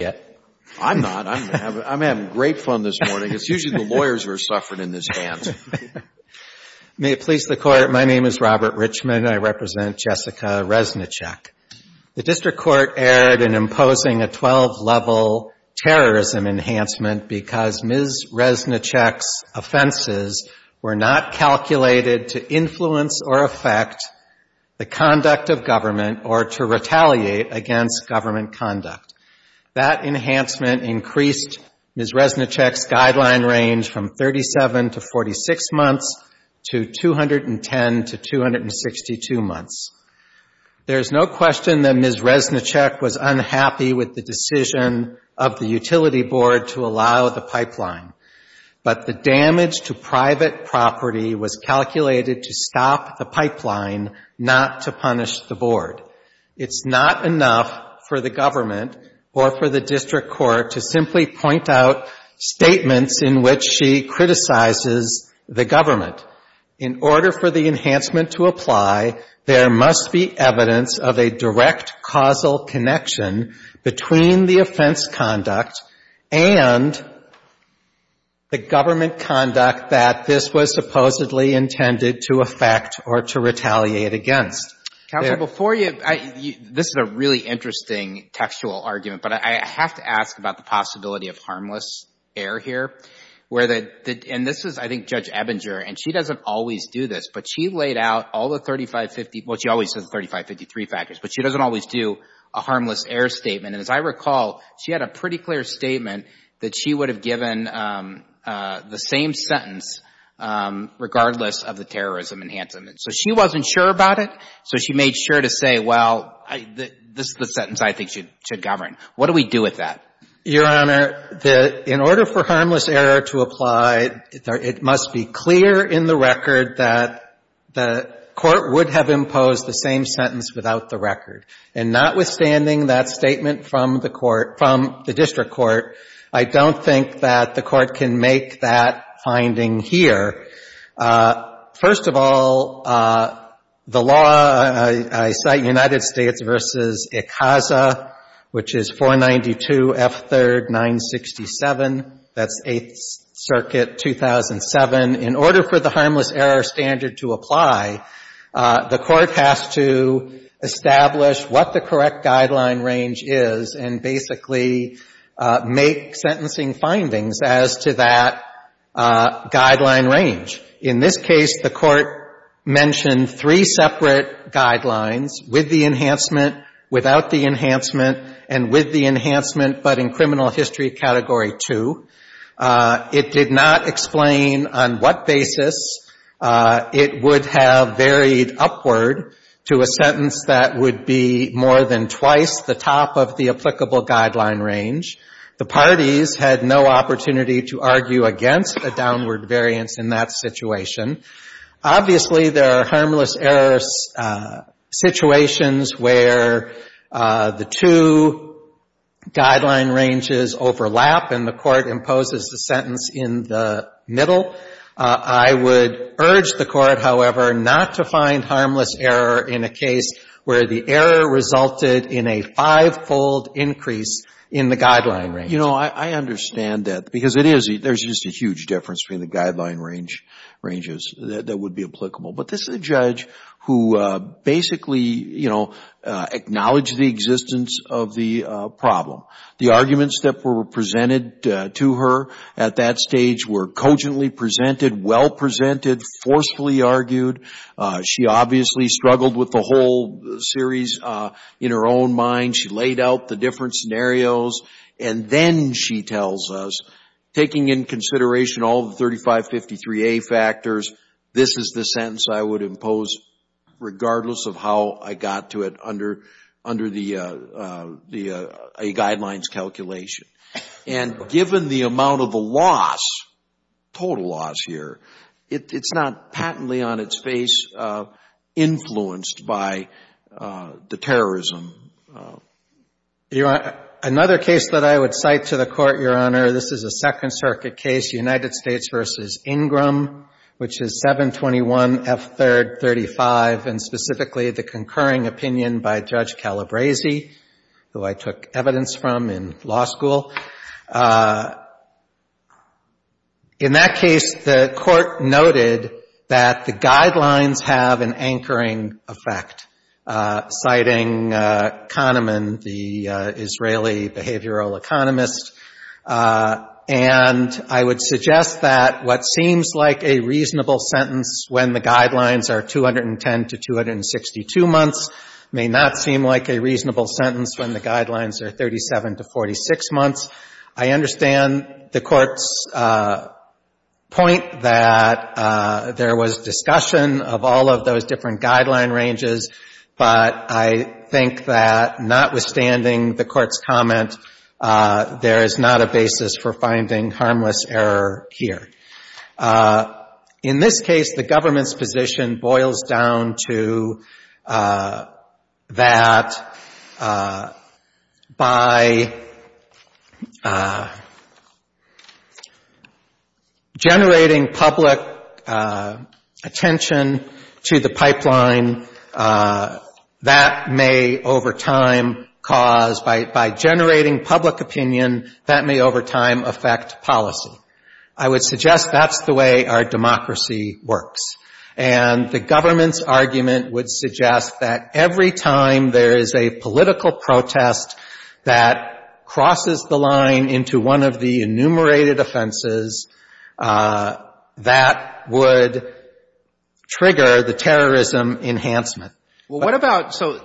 yet? I'm not. I'm having great fun this morning. It's usually the lawyers who are suffering in this dance. May it please the Court, my name is Robert Richman and I represent Jessica Reznicek. The District Court erred in imposing a 12-level terrorism enhancement because Ms. Reznicek's offenses were not calculated to influence or affect the conduct of government or to retaliate against government conduct. That enhancement increased Ms. Reznicek's guideline range from 37 to 46 months to 210 to 262 months. There's no question that Ms. Reznicek was unhappy with the decision of the Utility Board to allow the pipeline, but the damage to private property was calculated to stop the pipeline, not to punish the Board. It's not enough for the government or for the District Court to simply point out statements in which she criticizes the government. In order for the enhancement to apply, there that this was supposedly intended to affect or to retaliate against. Counsel, before you — this is a really interesting textual argument, but I have to ask about the possibility of harmless error here, where the — and this is, I think, Judge Ebinger, and she doesn't always do this, but she laid out all the 3550 — well, she always says the 3553 factors, but she doesn't always do a harmless error statement. And as I recall, she had a pretty clear statement that she would have given the same sentence regardless of the terrorism enhancement. So she wasn't sure about it, so she made sure to say, well, this is the sentence I think should govern. What do we do with that? Your Honor, the — in order for harmless error to apply, it must be clear in the record that the Court would have imposed the same sentence without the record. And notwithstanding that statement from the court — from the district court, I don't think that the Court can make that finding here. First of all, the law — I cite United States v. ICASA, which is 492 F. 3rd. 967. That's Eighth Circuit, 2007. In order for the harmless error standard to apply, the Court has to identify what the guideline range is and basically make sentencing findings as to that guideline range. In this case, the Court mentioned three separate guidelines, with the enhancement, without the enhancement, and with the enhancement, but in criminal history Category 2. It did not explain on what basis it would have varied upward to a sentence that would be more than twice the top of the applicable guideline range. The parties had no opportunity to argue against a downward variance in that situation. Obviously, there are harmless error situations where the two guideline ranges overlap and the Court imposes the sentence in the middle. I would urge the Court, however, not to find in a five-fold increase in the guideline range. You know, I understand that, because it is — there's just a huge difference between the guideline ranges that would be applicable. But this is a judge who basically, you know, acknowledged the existence of the problem. The arguments that were presented to her at that stage were cogently presented, well presented, forcefully argued. She obviously struggled with the whole series in her own mind. She laid out the different scenarios. And then she tells us, taking in consideration all of the 3553A factors, this is the sentence I would impose regardless of how I got to it under a guidelines calculation. And given the amount of the loss, total loss here, it's not patently on its face influenced by the terrorism. Another case that I would cite to the Court, Your Honor, this is a Second Circuit case, United States v. Ingram, which is 721F335, and specifically the concurring opinion by Judge Calabresi, who I took evidence from in law school. In that case, the Court noted that the guidelines have an anchoring effect, citing Kahneman, the Israeli behavioral economist. And I would suggest that what seems like a reasonable sentence when the guidelines are 210 to 262 months may not seem like a reasonable sentence when the guidelines are 37 to 46 months. I understand the Court's point that there was discussion of all of those different guideline ranges, but I think that notwithstanding the Court's comment, there is not a basis for finding harmless error here. In this case, the government's position boils down to that by the government's position, by generating public attention to the pipeline, that may over time cause, by generating public opinion, that may over time affect policy. I would suggest that's the way our democracy works. And the government's argument would suggest that every time there is a political protest that crosses the line into one of the enumerated offenses, that would trigger the terrorism enhancement. Well, what about so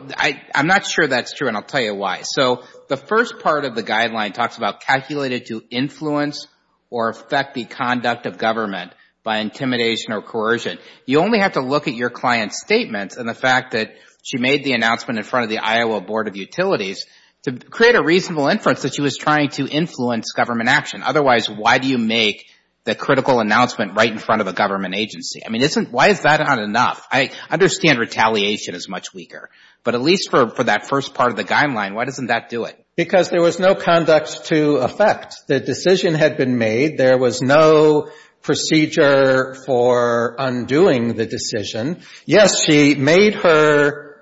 I'm not sure that's true, and I'll tell you why. So the first part of the guideline talks about calculated to influence or affect the conduct of government by intimidation or coercion. You only have to look at your client's statement and the fact that she made the announcement in front of the Iowa Board of Utilities to create a reasonable inference that she was trying to influence government action. Otherwise, why do you make the critical announcement right in front of a government agency? I mean, why is that not enough? I understand retaliation is much weaker, but at least for that first part of the guideline, why doesn't that do it? Because there was no conduct to affect. The decision had been made. There was no procedure for undoing the decision. Yes, she made her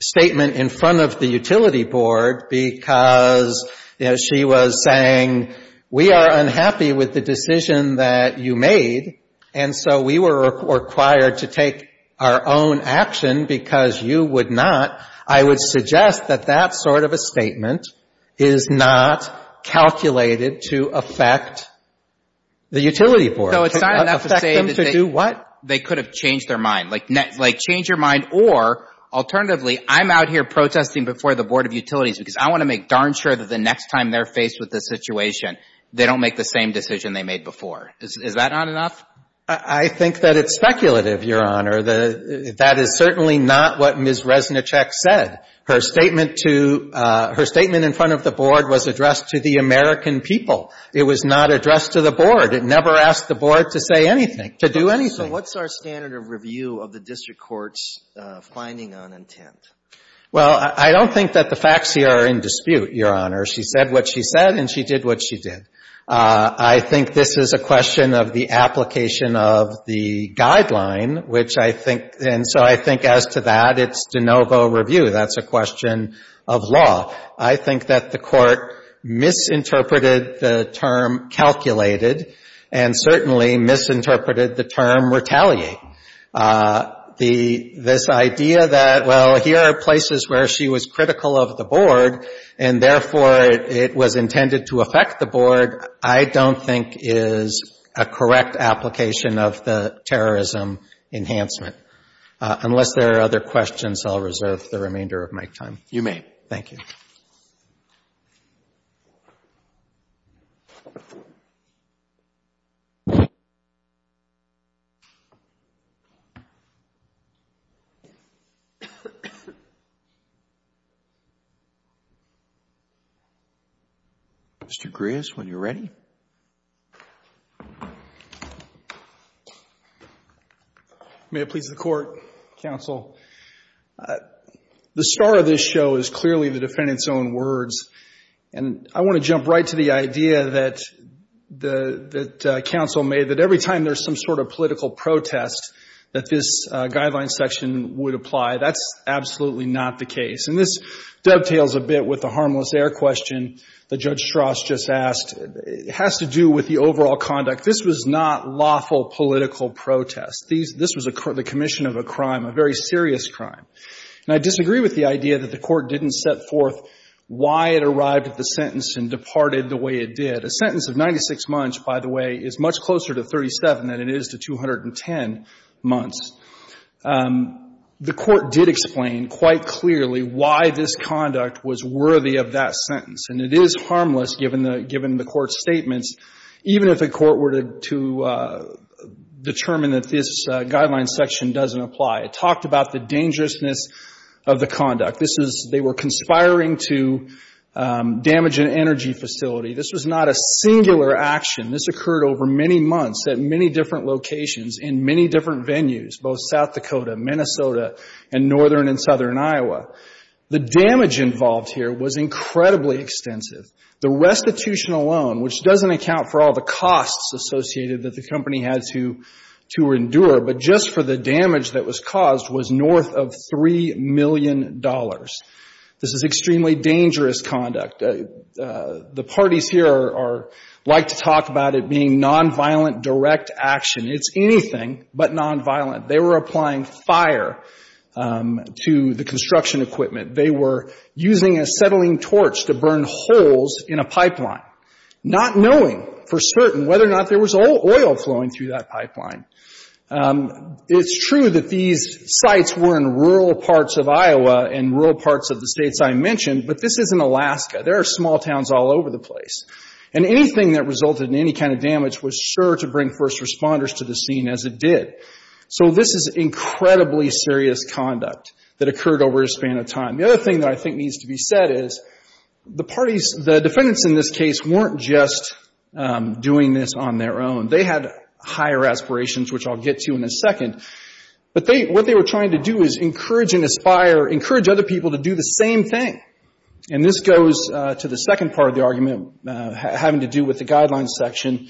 statement in front of the utility board because she was saying, we are unhappy with the decision that you made, and so we were required to take our own action because you would not. I would suggest that that sort of a statement is not calculated to affect the utility board. So it's not enough to say that they could have changed their mind, like change your mind, or alternatively, I'm out here protesting before the Board of Utilities because I want to make darn sure that the next time they're faced with this situation, they don't make the same decision they made before. Is that not enough? I think that it's speculative, Your Honor. That is certainly not what Ms. Resnicek said. Her statement to her statement in front of the board was addressed to the American people. It was not addressed to the board. It never asked the board to say anything, to do anything. So what's our standard of review of the district court's finding on intent? Well, I don't think that the facts here are in dispute, Your Honor. She said what she said, and she did what she did. I think this is a question of the application of the guideline, which I think, and so I think as to that, it's de novo review. That's a question of law. I think that the court misinterpreted the term calculated, and certainly misinterpreted the term retaliate. This idea that, well, here are places where she was critical of the board, and therefore, it was intended to affect the board, I don't think is a correct application of the terrorism enhancement. Unless there are other questions, I'll reserve the remainder of my time. You may. Thank you. Mr. Grias, when you're ready. May it please the court, counsel. The star of this show is clearly the defendant's own words, and I want to jump right to the idea that counsel made, that every time there's some sort of political protest, that this guideline section would apply. That's absolutely not the case, and this dovetails a bit with the harmless air question that Judge Strauss just asked. It has to do with the overall conduct. This was not lawful political protest. This was the commission of a crime, a very serious crime. And I disagree with the idea that the court didn't set forth why it arrived at the sentence and departed the way it did. A sentence of 96 months, by the way, is much closer to 37 than it is to 210 months. The court did explain quite clearly why this conduct was worthy of that sentence, and it is harmless given the court's statements, even if the court were to determine that this guideline section doesn't apply. It talked about the dangerousness of the conduct. This is, they were conspiring to damage an energy facility. This was not a singular action. This occurred over many months at many different locations in many different venues, both South Dakota, Minnesota, and northern and southern Iowa. The damage involved here was incredibly extensive. The restitution alone, which doesn't account for all the costs associated that the company had to endure, but just for the damage that was caused, was north of $3 million. This is extremely dangerous conduct. The parties here like to talk about it being nonviolent direct action. It's anything but nonviolent. They were applying fire to the construction equipment. They were using a settling torch to burn holes in a pipeline, not knowing for certain whether or not there was oil flowing through that pipeline. It's true that these sites were in rural parts of Iowa and rural parts of the states I mentioned, but this is in Alaska. There are small towns all over the place. And anything that resulted in any kind of damage was sure to bring first responders to the scene as it did. This is incredibly serious conduct that occurred over a span of time. The other thing that I think needs to be said is the defendants in this case weren't just doing this on their own. They had higher aspirations, which I'll get to in a second. But what they were trying to do is encourage and inspire, encourage other people to do the same thing. This goes to the second part of the argument having to do with the guidelines section,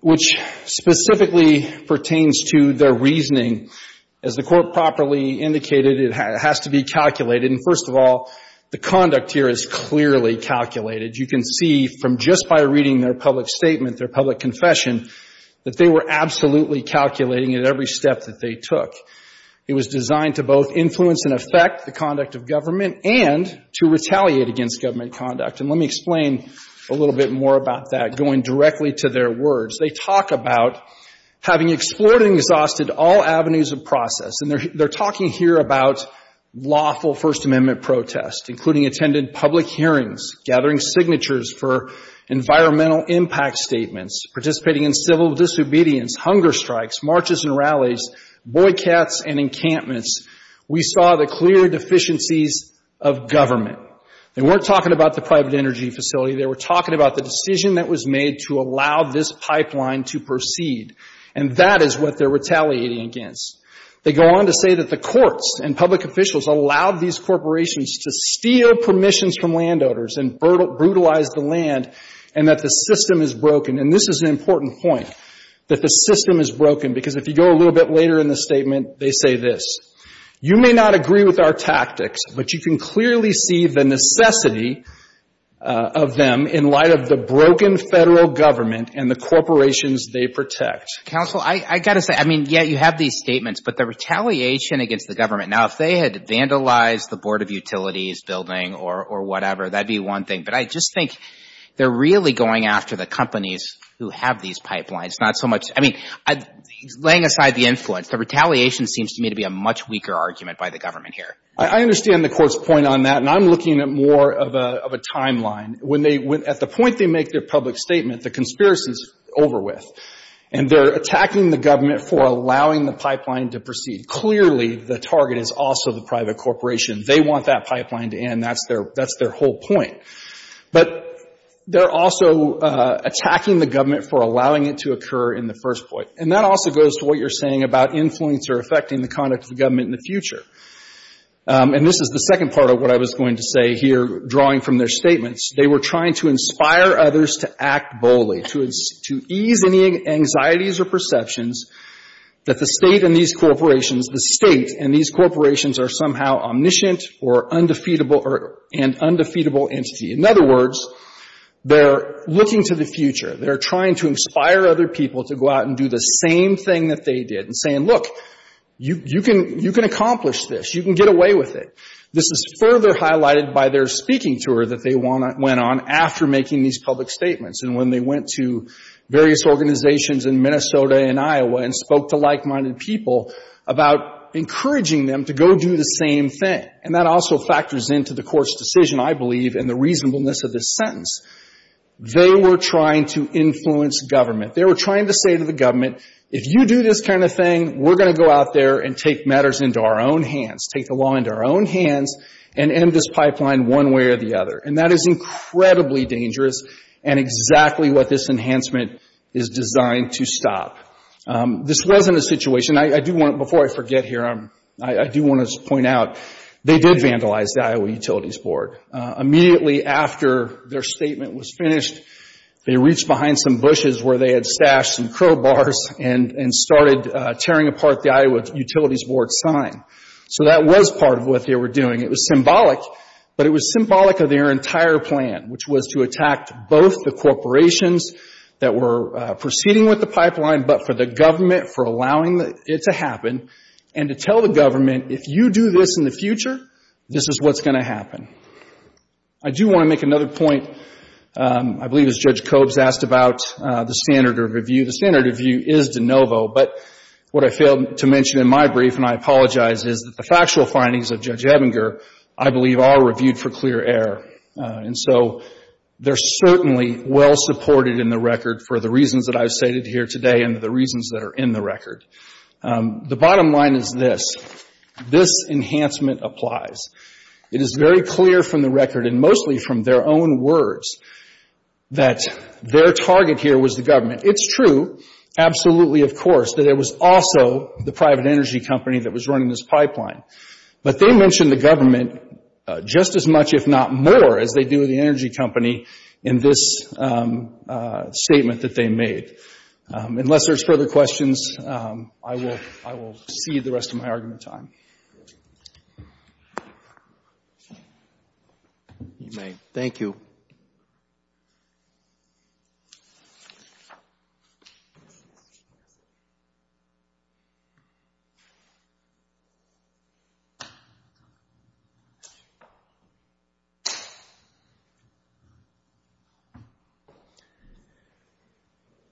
which specifically pertains to their reasoning. As the Court properly indicated, it has to be calculated. And first of all, the conduct here is clearly calculated. You can see from just by reading their public statement, their public confession, that they were absolutely calculating at every step that they took. It was designed to both influence and affect the conduct of government and to retaliate against government conduct. Let me explain a little bit more about that going directly to their words. They talk about having explored and exhausted all avenues of process. They're talking here about lawful First Amendment protests, including attending public hearings, gathering signatures for environmental impact statements, participating in civil disobedience, hunger strikes, marches and rallies, boycotts and encampments. We saw the clear deficiencies of government. They weren't talking about the private energy facility. They were talking about the decision that was made to allow this pipeline to proceed. And that is what they're retaliating against. They go on to say that the courts and public officials allowed these corporations to steal permissions from landowners and brutalize the land and that the system is broken. And this is an important point, that the system is broken. Because if you go a little bit later in the statement, they say this, you may not agree with our tactics, but you can clearly see the necessity of them in light of the broken federal government and the corporations they protect. Counsel, I got to say, I mean, yeah, you have these statements, but the retaliation against the government, now, if they had vandalized the Board of Utilities building or whatever, that'd be one thing. But I just think they're really going after the companies who have these pipelines, not so much, I mean, laying aside the influence, the retaliation seems to me to be a much weaker argument by the government here. I understand the Court's point on that. And I'm looking at more of a timeline. When they — at the point they make their public statement, the conspiracy is over with. And they're attacking the government for allowing the pipeline to proceed. Clearly, the target is also the private corporation. They want that pipeline to end. That's their whole point. But they're also attacking the government for allowing it to occur in the first place. And that also goes to what you're saying about influence or affecting the conduct of And this is the second part of what I was going to say here, drawing from their statements. They were trying to inspire others to act boldly, to ease any anxieties or perceptions that the State and these corporations, the State and these corporations are somehow omniscient or undefeatable or an undefeatable entity. In other words, they're looking to the future. They're trying to inspire other people to go out and do the same thing that they did and saying, look, you can accomplish this. You can get away with it. This is further highlighted by their speaking tour that they went on after making these public statements and when they went to various organizations in Minnesota and Iowa and spoke to like-minded people about encouraging them to go do the same thing. And that also factors into the Court's decision, I believe, and the reasonableness of this sentence. They were trying to influence government. They were trying to say to the government, if you do this kind of thing, we're going to go out there and take matters into our own hands, take the law into our own hands and end this pipeline one way or the other. And that is incredibly dangerous and exactly what this enhancement is designed to stop. This wasn't a situation, I do want, before I forget here, I do want to point out, they did vandalize the Iowa Utilities Board. Immediately after their statement was finished, they reached behind some bushes where they had stashed some crowbars and started tearing apart the Iowa Utilities Board sign. So that was part of what they were doing. It was symbolic, but it was symbolic of their entire plan, which was to attack both the corporations that were proceeding with the pipeline, but for the government for allowing it to happen and to tell the government, if you do this in the future, this is what's going to happen. I do want to make another point. I believe it was Judge Cobbs asked about the standard of review. The standard of review is de novo, but what I failed to mention in my brief, and I apologize, is that the factual findings of Judge Ebinger, I believe, are reviewed for clear error. And so they're certainly well supported in the record for the reasons that I've stated here today and the reasons that are in the record. The bottom line is this. This enhancement applies. It is very clear from the record and mostly from their own words that their target here was the government. It's true, absolutely, of course, that it was also the private energy company that was running this pipeline. But they mentioned the government just as much, if not more, as they do the government. I will cede the rest of my argument time. You may. Thank you.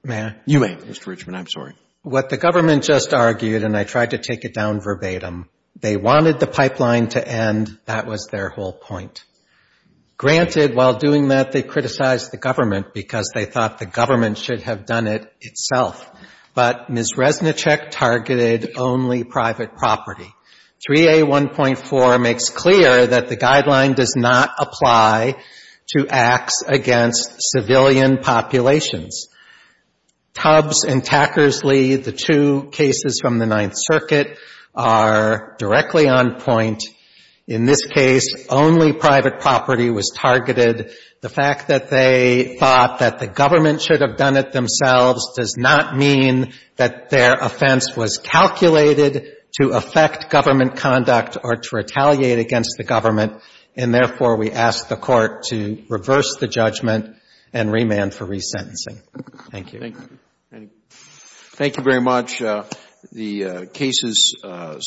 May I? You may, Mr. Richmond. I'm sorry. What the government just argued, and I tried to take it down verbatim, they wanted the pipeline to end. That was their whole point. Granted, while doing that, they criticized the government because they thought the government should have done it itself. But Ms. Resnicek targeted only private property. 3A1.4 makes clear that the guideline does not apply to the government. Ms. Tackersley, the two cases from the Ninth Circuit are directly on point. In this case, only private property was targeted. The fact that they thought that the government should have done it themselves does not mean that their offense was calculated to affect government conduct or to retaliate against the government. And therefore, we ask the Court to reverse the judgment and remand for resentencing. Thank you. Thank you. Thank you very much. The case is submitted.